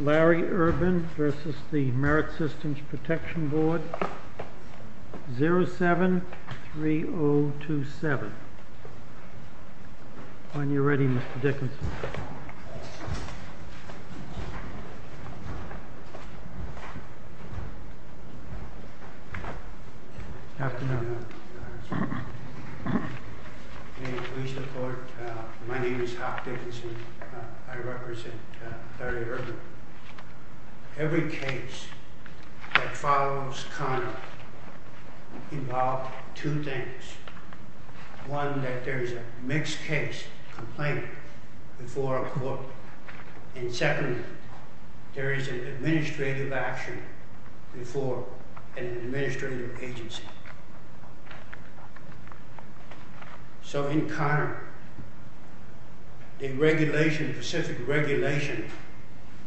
Larry Urban v. Merit Systems Protection Board 07-3027 Every case that follows Conner involves two things. One, that there is a mixed case complaint before a court and secondly, there is an administrative action before an administrative agency. So in Conner, the regulation, specific regulation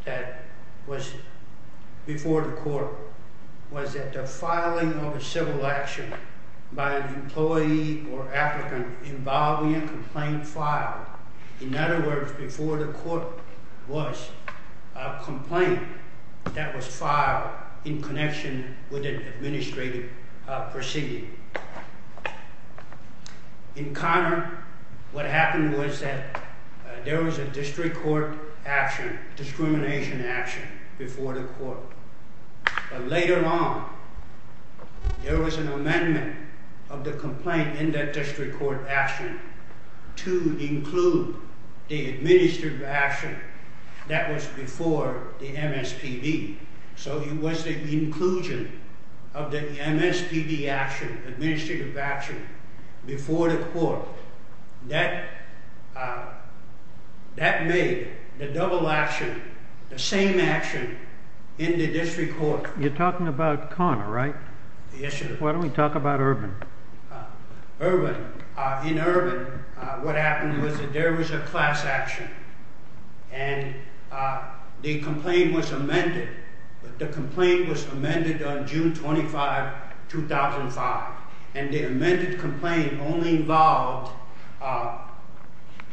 that was before the court was that the filing of a civil action by an employee or applicant involving a complaint filed. In other words, before the court was a complaint that was filed in connection with an administrative proceeding. In Conner, what happened was that there was a district court action, discrimination action before the court. But later on, there was an amendment of the complaint in that district court action to include the administrative action that was before the MSPB. So it was the inclusion of the MSPB action, administrative action before the court. That made the double action, the same action in the district court. You're talking about Conner, right? Yes, sir. Why don't we talk about Urban? In Urban, what happened was that there was a class action and the complaint was amended. The complaint was amended on June 25, 2005 and the amended complaint only involved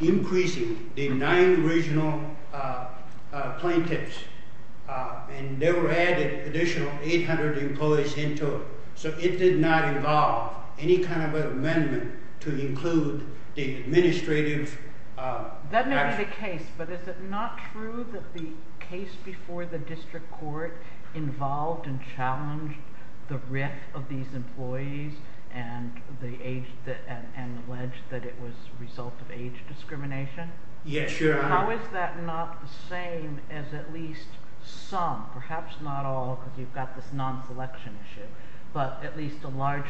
increasing the nine regional plaintiffs and they were added additional 800 employees into it. So it did not involve any kind of an amendment to include the administrative action. That may be the case, but is it not true that the case before the district court involved and challenged the risk of these employees and alleged that it was a result of age discrimination? Yes, your honor. How is that not the same as at least some, perhaps not all because you've got this non-selection issue, but at least a large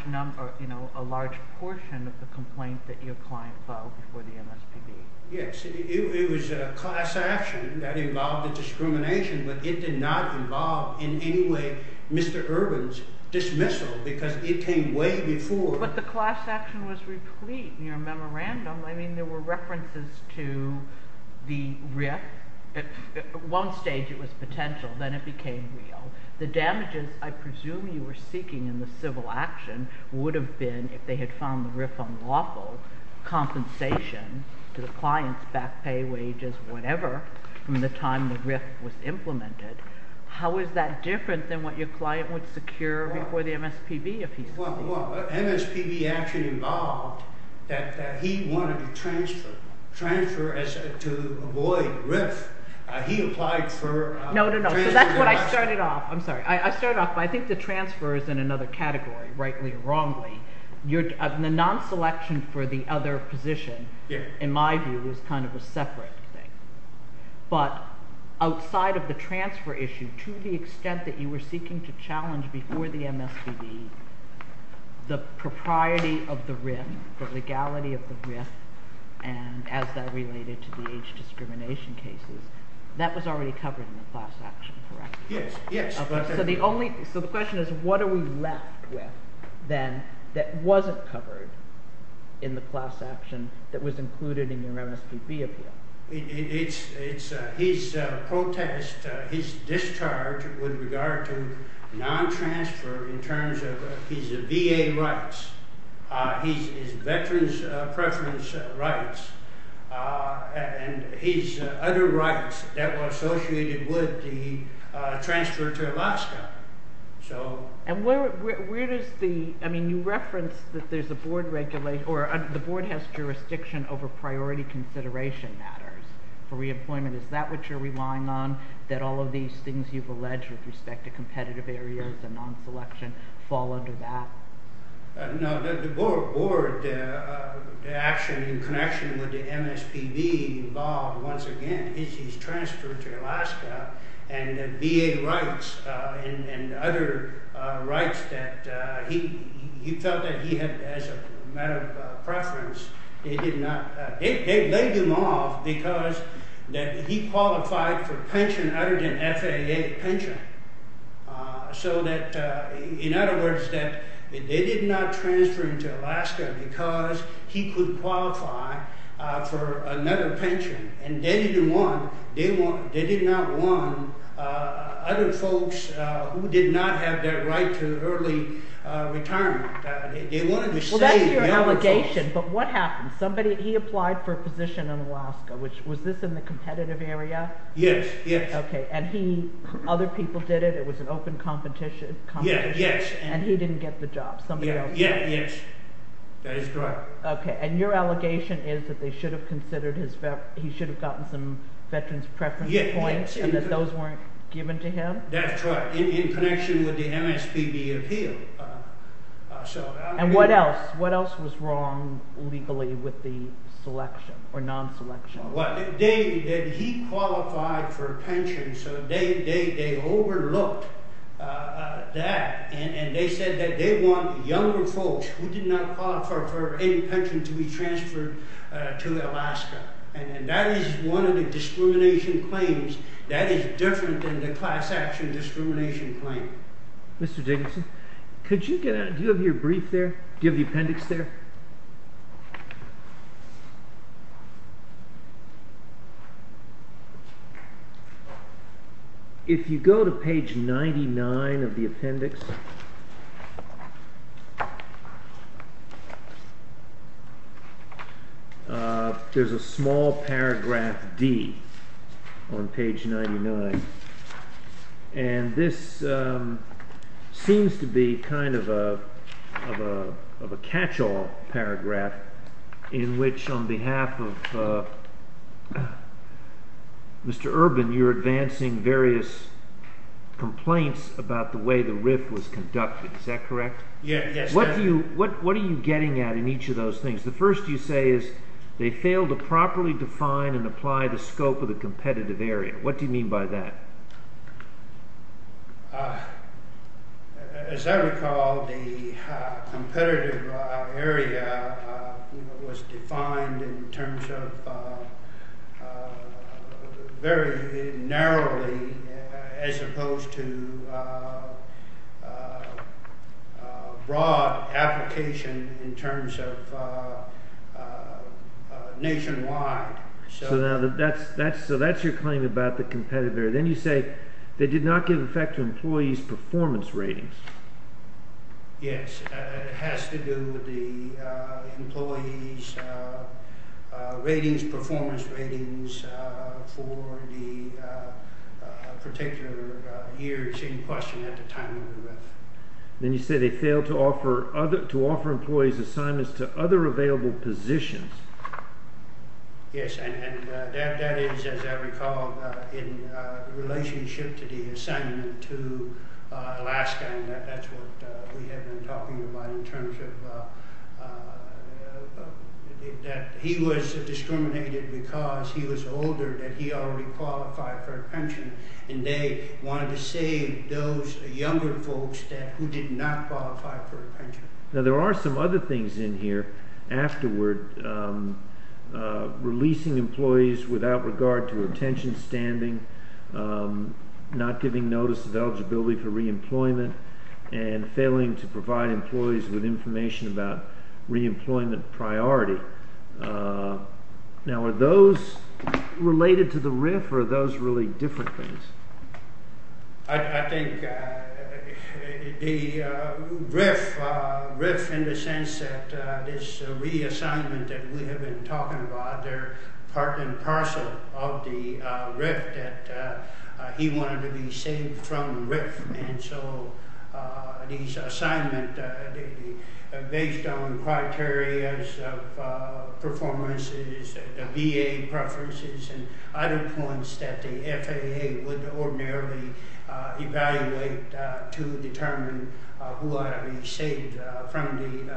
portion of the complaint that your client filed before the MSPB? Yes, it was a class action that involved discrimination, but it did not involve in any way Mr. Urban's dismissal because it came way before. But the class action was replete in your memorandum. I mean, there were references to the RIF. At one stage it was potential, then it became real. The damages I presume you were seeking in the civil action would have been, if they had found the RIF unlawful, compensation to the client's back pay, wages, whatever, from the time the RIF was implemented. How is that different than what your client would secure before the MSPB? Well, MSPB actually involved that he wanted to transfer to avoid RIF. He applied for No, no, no. So that's what I started off. I'm sorry. I started off, but I think the other category, rightly or wrongly, the non-selection for the other position, in my view, is kind of a separate thing. But outside of the transfer issue, to the extent that you were seeking to challenge before the MSPB the propriety of the RIF, the legality of the RIF, and as that related to the age discrimination cases, that was already covered in the class action, correct? Yes, yes. So the question is, what are we left with then that wasn't covered in the class action that was included in your MSPB appeal? His protest, his discharge with regard to non-transfer in terms of his VA rights, his transfer to Alaska. And where does the, I mean, you referenced that there's a board regulation, or the board has jurisdiction over priority consideration matters for re-employment. Is that what you're relying on, that all of these things you've alleged with respect to competitive areas and non-selection fall under that? No, the board action in connection with the MSPB involved, once again, his transfer to Alaska and other rights that he felt that he had, as a matter of preference, they did not, they laid him off because that he qualified for pension other than FAA pension. So that, in other words, that they did not transfer him to Alaska because he could qualify for another pension. And they didn't want, they did not want other folks who did not have that right to early retirement. They wanted to save the other folks. Well, that's your allegation, but what happened? Somebody, he applied for a position in Alaska. Was this in the competitive area? Yes, yes. Okay, and he, other people did it, it was an open competition. Yes, yes. And he didn't get the job, somebody else did. Yes, yes, that is correct. Okay, and your allegation is that they should have considered his, he should have gotten some veterans preference points and that those weren't given to him? That's right, in connection with the MSPB appeal. And what else, what else was wrong legally with the selection or non-selection? Well, they, that he qualified for pension, so they overlooked that and they said that they did not qualify for any pension to be transferred to Alaska. And that is one of the discrimination claims that is different than the class action discrimination claim. Mr. Jacobson, could you get out, do you have your brief there? Do you have the appendix there? If you go to page 99 of the appendix, there is a small paragraph D on page 99, and this seems to be kind of a catch-all paragraph in which, on behalf of Mr. Urban, you are advancing various complaints about the way the RIF was conducted, is that correct? Yes. What do you, what are you getting at in each of those things? The first you say is they failed to properly define and apply the scope of the competitive area. What do you mean by that? As I recall, the competitive area was defined in terms of very narrowly as opposed to broad application in terms of nationwide. So that is your claim about the competitive area. Then you say they did not give effect to employees' performance ratings. Yes, it has to do with the employees' ratings, performance ratings for the particular year, same question, at the time of the RIF. Then you say they failed to offer employees' assignments to other available positions. Yes, and that is, as I recall, in relationship to the assignment to Alaska, and that is what we have been talking about in terms of that he was discriminated because he was older, that he already qualified for a pension, and they wanted to save those younger folks who did not qualify for a pension. Now, there are some other things in here afterward, releasing employees without regard to attention standing, not giving notice of eligibility for re-employment, and failing to provide employees with information about re-employment priority. Now, are those related to the RIF or are those really different things? I think the RIF, in the sense that this reassignment that we have been talking about, they are part and parcel of the RIF, that he wanted to be saved from the RIF, and so these assignments, based on evaluate to determine who ought to be saved from the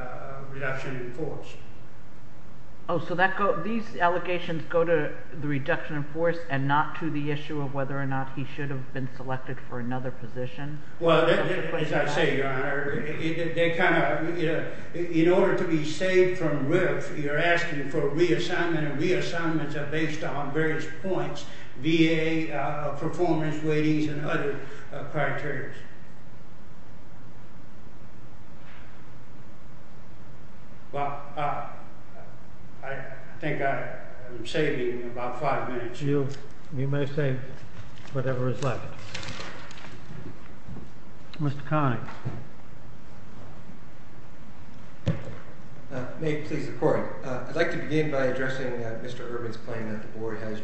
reduction in force. Oh, so these allegations go to the reduction in force and not to the issue of whether or not he should have been selected for another position? Well, as I say, Your Honor, in order to be saved from RIF, you are asking for reassignment, and other criteria. Well, I think I'm saving about five minutes. You may say whatever is left. Mr. Connick. May it please the Court, I'd like to begin by addressing Mr. Urban's claim that the Board has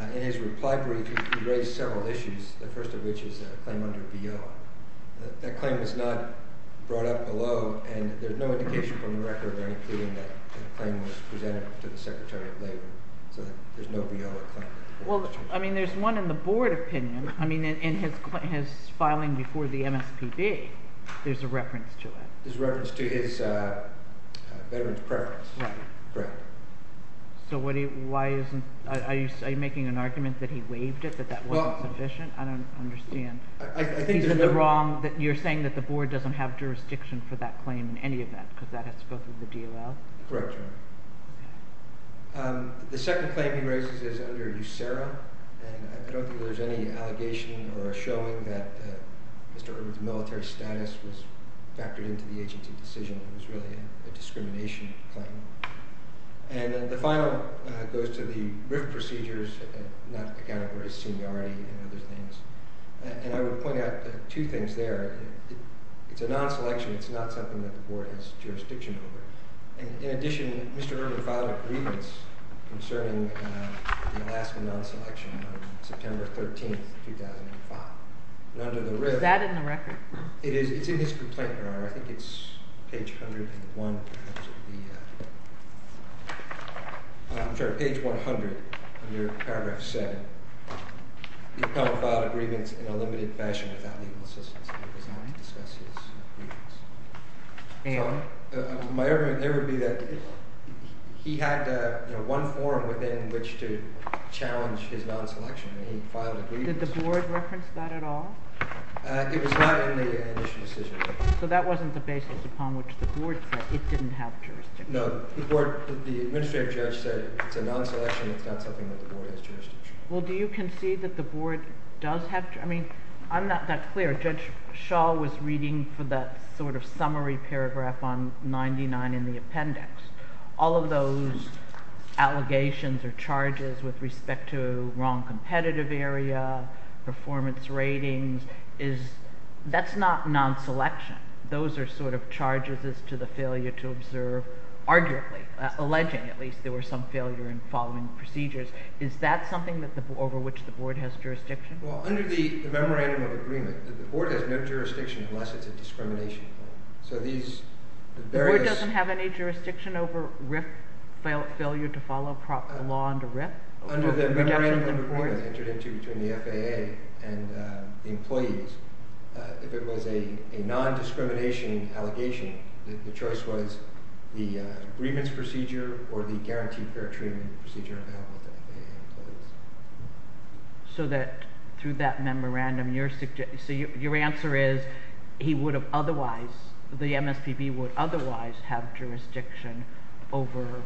In his reply brief, he raised several issues, the first of which is a claim under BO. That claim is not brought up below, and there's no indication from the record or anything that that claim was presented to the Secretary of Labor, so there's no BO in that claim. Well, I mean, there's one in the Board opinion. I mean, in his filing before the MSPB, there's a reference to it. There's a reference to his veteran's preference. Right. So why isn't, are you making an argument that he waived it, that that wasn't sufficient? I don't understand. I think that the Is it the wrong, you're saying that the Board doesn't have jurisdiction for that claim in any event, because that has to go through the DOL? Correct, Your Honor. The second claim he raises is under USERRA, and I don't think there's any allegation or a showing that Mr. Urban's military status was factored into the agency decision. It was really a discrimination claim. And the final goes to the RIF procedures, not accounting for his seniority and other things. And I would point out two things there. It's a non-selection. It's not something that the Board has jurisdiction over. In addition, Mr. Urban filed a grievance concerning the Alaska non-selection on September 13, 2005. And under the RIF Is that in the record? It is. It's in his complaint, Your Honor. I think it's page 101, perhaps. I'm sorry, page 100, under paragraph 7. The appellant filed a grievance in a limited fashion without legal assistance. It does not discuss his grievance. And? My argument there would be that he had one forum within which to challenge his non-selection, and he filed a grievance. Did the Board reference that at all? It was not in the initial decision. So that wasn't the basis upon which the Board said it didn't have jurisdiction. No. The Board, the administrative judge said it's a non-selection. It's not something that the Board has jurisdiction. Well, do you concede that the Board does have jurisdiction? I mean, I'm not that clear. Judge Shaw was reading for that sort of summary paragraph on 99 in the appendix. All of those allegations or charges with respect to wrong competitive area, performance ratings, that's not non-selection. Those are sort of charges as to the failure to observe, arguably, alleging at least there were some failure in following procedures. Is that something over which the Board has jurisdiction? Well, under the memorandum of agreement, the Board has no jurisdiction unless it's a discrimination. So these various— The Board doesn't have any jurisdiction over RIF failure to follow proper law under RIF? Under the memorandum of agreement entered into between the FAA and the employees, if it was a non-discrimination allegation, the choice was the grievance procedure or the guaranteed fair treatment procedure available to FAA employees. So that through that memorandum, your answer is he would have otherwise— the MSPB would otherwise have jurisdiction over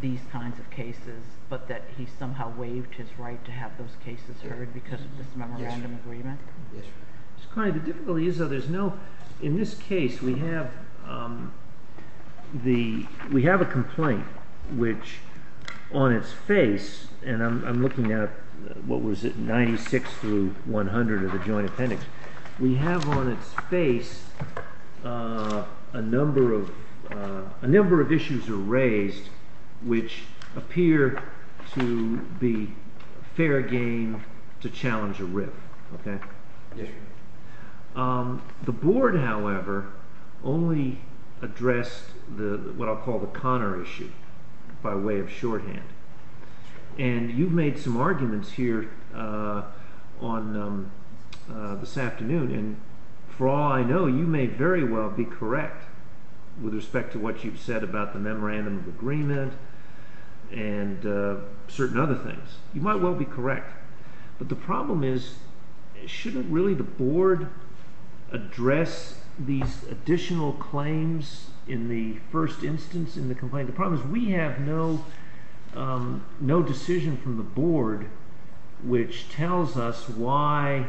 these kinds of cases but that he somehow waived his right to have those cases heard because of this memorandum agreement? Yes, Your Honor. Mr. Carney, the difficulty is though there's no— in this case, we have a complaint which on its face, and I'm looking at what was it, 96 through 100 of the joint appendix. We have on its face a number of issues raised which appear to be fair game to challenge a RIF, okay? Yes, Your Honor. The Board, however, only addressed what I'll call the Connor issue by way of shorthand. And you've made some arguments here on this afternoon. And for all I know, you may very well be correct with respect to what you've said about the memorandum of agreement and certain other things. You might well be correct. But the problem is shouldn't really the Board address these additional claims in the first instance in the complaint? The problem is we have no decision from the Board which tells us why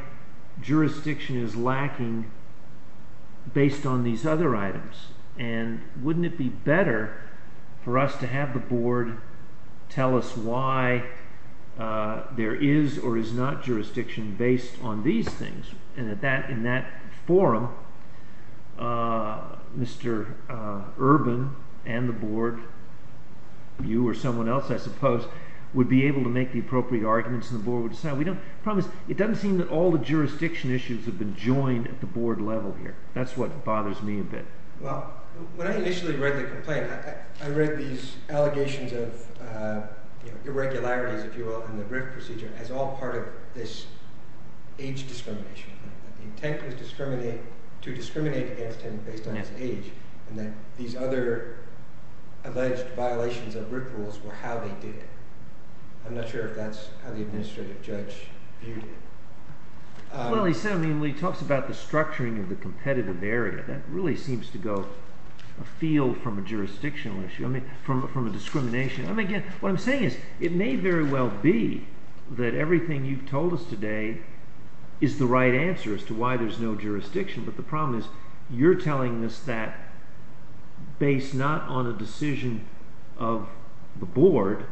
jurisdiction is lacking based on these other items. And wouldn't it be better for us to have the Board tell us why there is or is not jurisdiction based on these things? And in that forum, Mr. Urban and the Board, you or someone else I suppose, would be able to make the appropriate arguments and the Board would decide. The problem is it doesn't seem that all the jurisdiction issues have been joined at the Board level here. That's what bothers me a bit. Well, when I initially read the complaint, I read these allegations of irregularities, if you will, in the RIF procedure as all part of this age discrimination. The intent was to discriminate against him based on his age. And that these other alleged violations of RIF rules were how they did it. I'm not sure if that's how the administrative judge viewed it. Well, he talks about the structuring of the competitive area. That really seems to go afield from a jurisdictional issue, from a discrimination. What I'm saying is it may very well be that everything you've told us today is the right answer as to why there's no jurisdiction. But the problem is you're telling us that based not on a decision of the Board,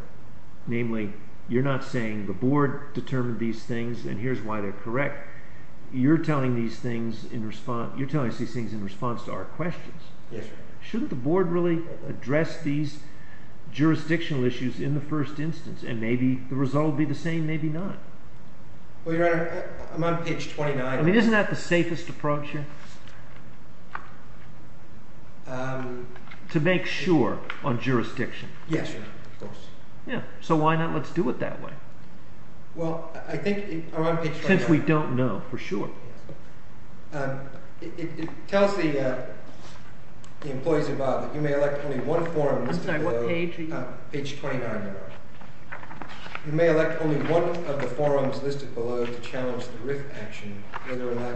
namely, you're not saying the Board determined these things and here's why they're correct. You're telling us these things in response to our questions. Yes, sir. Shouldn't the Board really address these jurisdictional issues in the first instance and maybe the result will be the same, maybe not? Well, Your Honor, I'm on page 29. I mean, isn't that the safest approach here? To make sure on jurisdiction. Yes, Your Honor, of course. Yeah, so why not let's do it that way? Well, I think I'm on page 29. Since we don't know for sure. It tells the employees involved that you may elect only one forum listed below. I'm sorry, what page are you on? Page 29, Your Honor. You may elect only one of the forums listed below to challenge the RIF action whether or not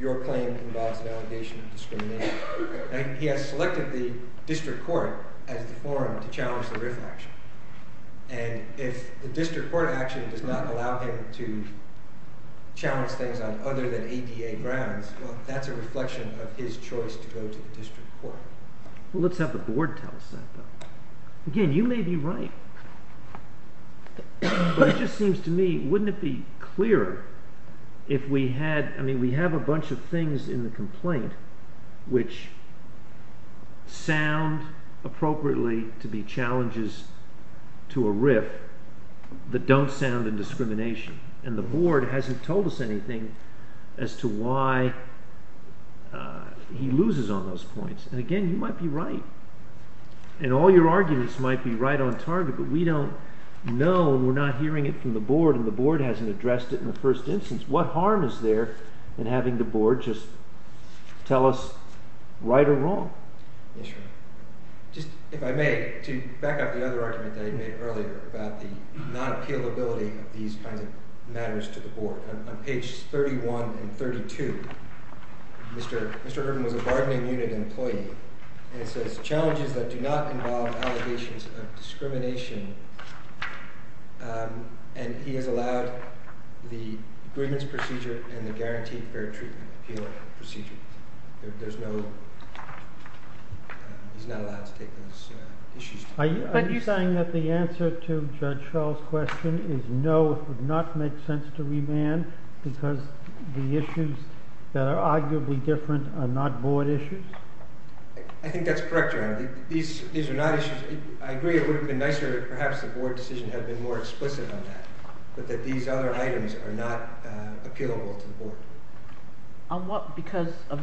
your claim involves an allegation of discrimination. He has selected the district court as the forum to challenge the RIF action. And if the district court action does not allow him to challenge things on other than ADA grounds, well, that's a reflection of his choice to go to the district court. Well, let's have the Board tell us that. Again, you may be right. But it just seems to me, wouldn't it be clearer if we had, I mean, we have a bunch of things in the complaint which sound appropriately to be challenges to a RIF that don't sound in discrimination. And the Board hasn't told us anything as to why he loses on those points. And again, you might be right. And all your arguments might be right on target, but we don't know, we're not hearing it from the Board, and the Board hasn't addressed it in the first instance. What harm is there in having the Board just tell us right or wrong? Yes, Your Honor. Just, if I may, to back up the other argument that I made earlier about the non-appealability of these kinds of matters to the Board. On page 31 and 32, Mr. Urban was a bargaining unit employee, and it says, Challenges that do not involve allegations of discrimination, and he has allowed the agreements procedure and the guaranteed fair treatment appeal procedure. There's no, he's not allowed to take those issues. Are you saying that the answer to Judge Shull's question is no, it would not make sense to remand because the issues that are arguably different are not Board issues? I think that's correct, Your Honor. These are not issues. I agree it would have been nicer if perhaps the Board decision had been more explicit on that, but that these other items are not appealable to the Board. On what, because of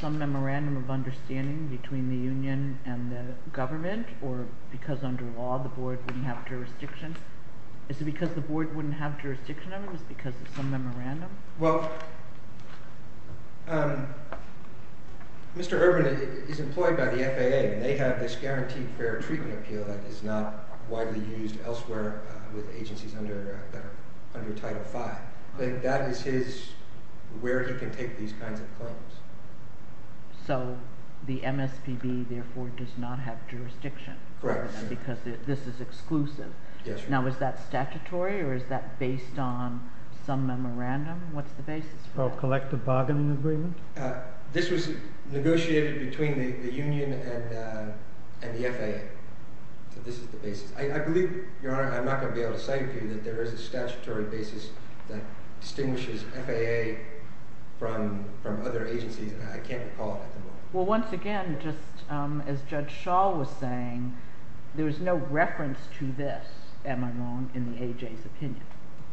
some memorandum of understanding between the union and the government, or because under law the Board wouldn't have jurisdiction? Is it because the Board wouldn't have jurisdiction over them? Is it because of some memorandum? Well, Mr. Urban is employed by the FAA, and they have this guaranteed fair treatment appeal that is not widely used elsewhere with agencies under Title V. That is his, where he can take these kinds of claims. So the MSPB therefore does not have jurisdiction over them because this is exclusive. Now is that statutory or is that based on some memorandum? What's the basis for that? A collective bargaining agreement? This was negotiated between the union and the FAA, so this is the basis. I believe, Your Honor, I'm not going to be able to say to you that there is a statutory basis that distinguishes FAA from other agencies. I can't recall at the moment. Well, once again, just as Judge Schall was saying, there is no reference to this, am I wrong, in the AJ's opinion,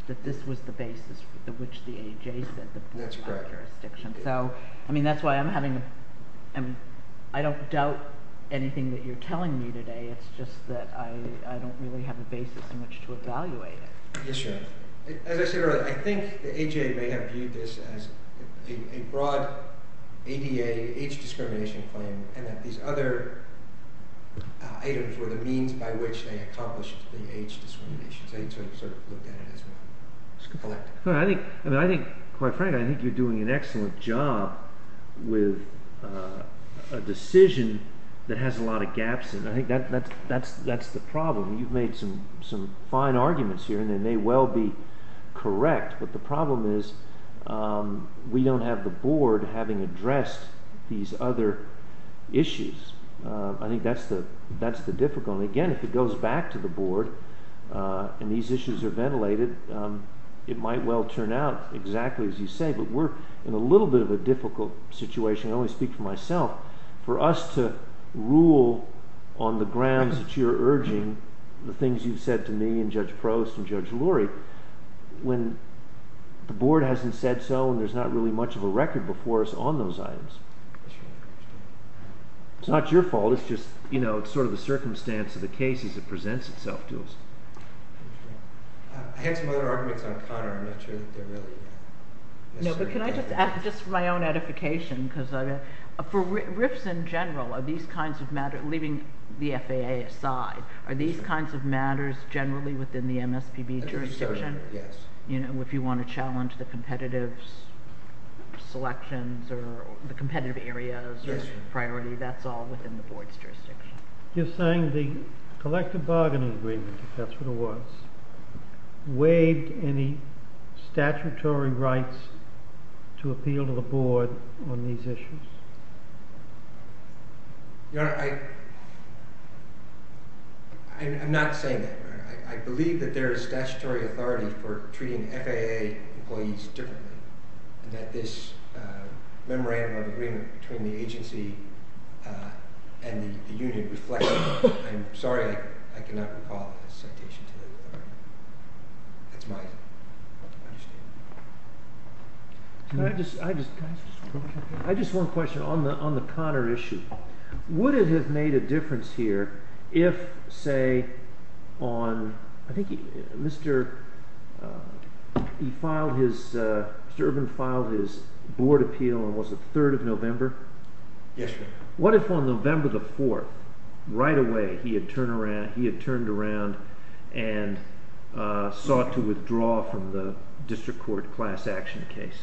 that this was the basis for which the AJ said the Board had jurisdiction. That's correct. I mean, that's why I'm having – I don't doubt anything that you're telling me today. It's just that I don't really have a basis in which to evaluate it. Yes, Your Honor. As I said earlier, I think the AJ may have viewed this as a broad ADA age discrimination claim and that these other items were the means by which they accomplished the age discrimination. So they sort of looked at it as one collective. I think, quite frankly, I think you're doing an excellent job with a decision that has a lot of gaps in it. I think that's the problem. You've made some fine arguments here, and they may well be correct, but the problem is we don't have the Board having addressed these other issues. I think that's the difficulty. Again, if it goes back to the Board and these issues are ventilated, it might well turn out exactly as you say, but we're in a little bit of a difficult situation. I only speak for myself. For us to rule on the grounds that you're urging, the things you've said to me and Judge Prost and Judge Lurie, when the Board hasn't said so and there's not really much of a record before us on those items. It's not your fault. It's just sort of the circumstance of the case as it presents itself to us. I had some other arguments on Connor. I'm not sure that they're really necessary. Can I just add just my own edification? For RIFs in general, are these kinds of matters, leaving the FAA aside, are these kinds of matters generally within the MSPB jurisdiction? Yes. If you want to challenge the competitive selections or the competitive areas or priority, that's all within the Board's jurisdiction. You're saying the collective bargaining agreement, if that's what it was, waived any statutory rights to appeal to the Board on these issues? Your Honor, I'm not saying that. I believe that there is statutory authority for treating FAA employees differently and that this memorandum of agreement between the agency and the union reflects that. I'm sorry I cannot recall a citation to that authority. That's my understanding. I just have one question on the Connor issue. Would it have made a difference here if, say, Mr. Urban filed his Board appeal on the 3rd of November? Yes, Your Honor. What if on November the 4th, right away, he had turned around and sought to withdraw from the district court class action case?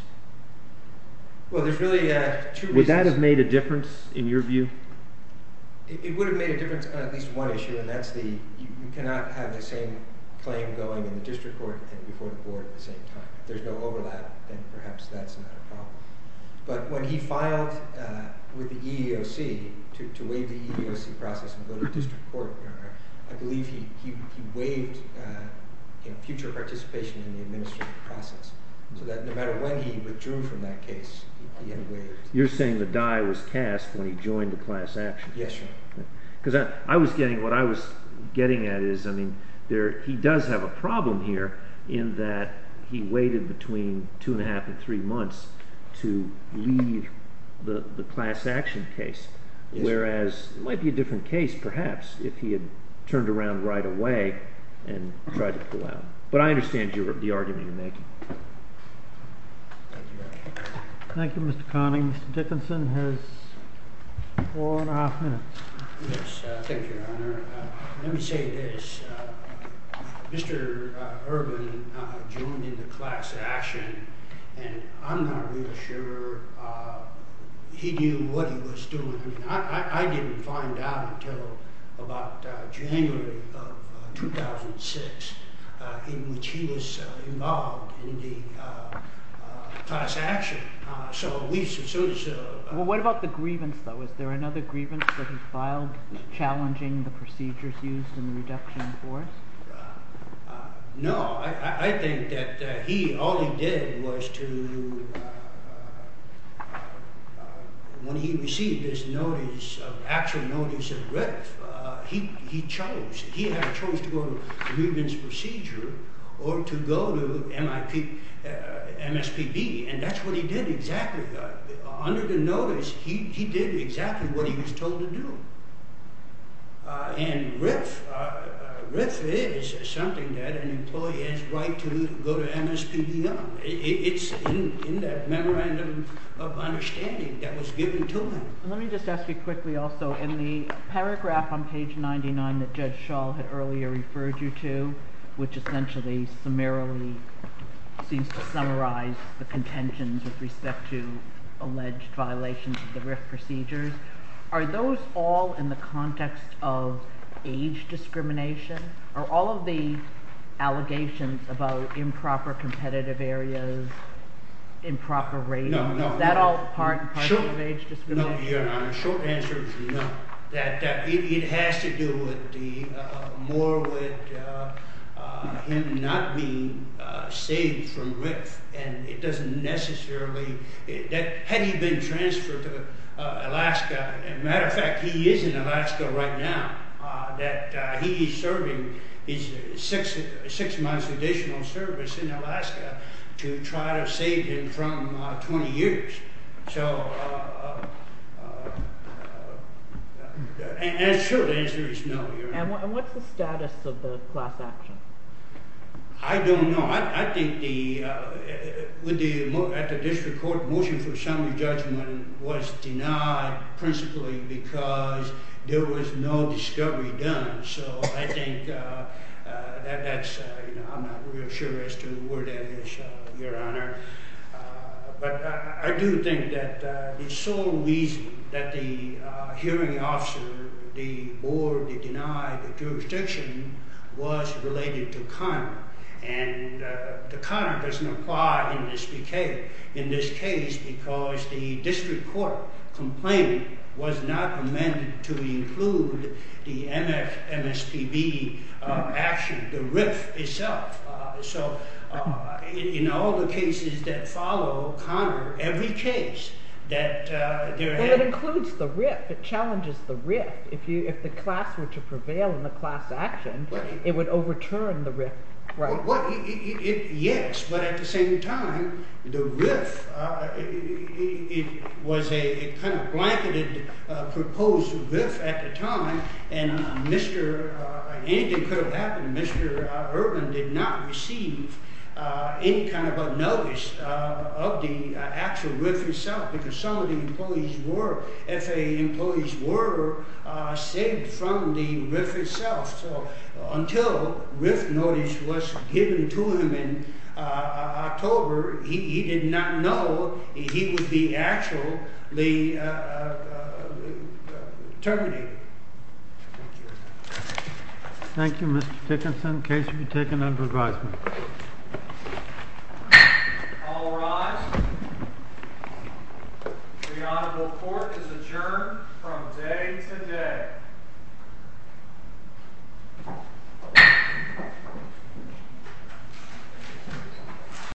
Well, there's really two reasons. Would that have made a difference in your view? It would have made a difference on at least one issue, and that's that you cannot have the same claim going in the district court and before the Board at the same time. If there's no overlap, then perhaps that's not a problem. But when he filed with the EEOC to waive the EEOC process and go to district court, Your Honor, I believe he waived future participation in the administrative process. So that no matter when he withdrew from that case, he had waived. You're saying the die was cast when he joined the class action? Yes, Your Honor. Because I was getting what I was getting at is, I mean, he does have a problem here in that he waited between two and a half and three months to leave the class action case. Whereas it might be a different case, perhaps, if he had turned around right away and tried to pull out. But I understand the argument you're making. Thank you, Your Honor. Thank you, Mr. Conning. Dickinson has four and a half minutes. Thank you, Your Honor. Let me say this. Mr. Urban joined in the class action, and I'm not really sure he knew what he was doing. I didn't find out until about January of 2006 in which he was involved in the class action. Well, what about the grievance, though? Was there another grievance that he filed challenging the procedures used in the reduction in force? No. I think that all he did was to, when he received his notice, actual notice of writ, he chose. He chose to go to grievance procedure or to go to MSPB, and that's what he did exactly. Under the notice, he did exactly what he was told to do. And writ is something that an employee has a right to go to MSPB on. It's in that memorandum of understanding that was given to him. Let me just ask you quickly also, in the paragraph on page 99 that Judge Schall had earlier referred you to, which essentially summarily seems to summarize the contentions with respect to alleged violations of the writ procedures, are those all in the context of age discrimination? Are all of the allegations about improper competitive areas, improper ratings, is that all part and parcel of age discrimination? No, Your Honor. The short answer is no. It has to do more with him not being saved from writ. And it doesn't necessarily, had he been transferred to Alaska, a matter of fact, he is in Alaska right now, that he is serving his six months additional service in Alaska to try to save him from 20 years. So the short answer is no, Your Honor. And what's the status of the class action? I don't know. I think that the district court motion for summary judgment was denied principally because there was no discovery done. So I think that's, you know, I'm not real sure as to where that is, Your Honor. But I do think that the sole reason that the hearing officer, the board, denied the jurisdiction was related to Connor. And Connor doesn't apply in this case because the district court complaint was not amended to include the MSPB action, the RIF itself. So, you know, all the cases that follow Connor, every case that there had… Well, it includes the RIF. It challenges the RIF. If the class were to prevail in the class action, it would overturn the RIF. Yes, but at the same time, the RIF, it was a kind of blanketed proposed RIF at the time. And anything could have happened. Mr. Ervin did not receive any kind of a notice of the actual RIF itself because some of the employees were… FAA employees were saved from the RIF itself. So until RIF notice was given to him in October, he did not know he would be actually terminated. Thank you, Mr. Dickinson. The case will be taken under advisement. All rise. The honorable court is adjourned from day to day. Thank you.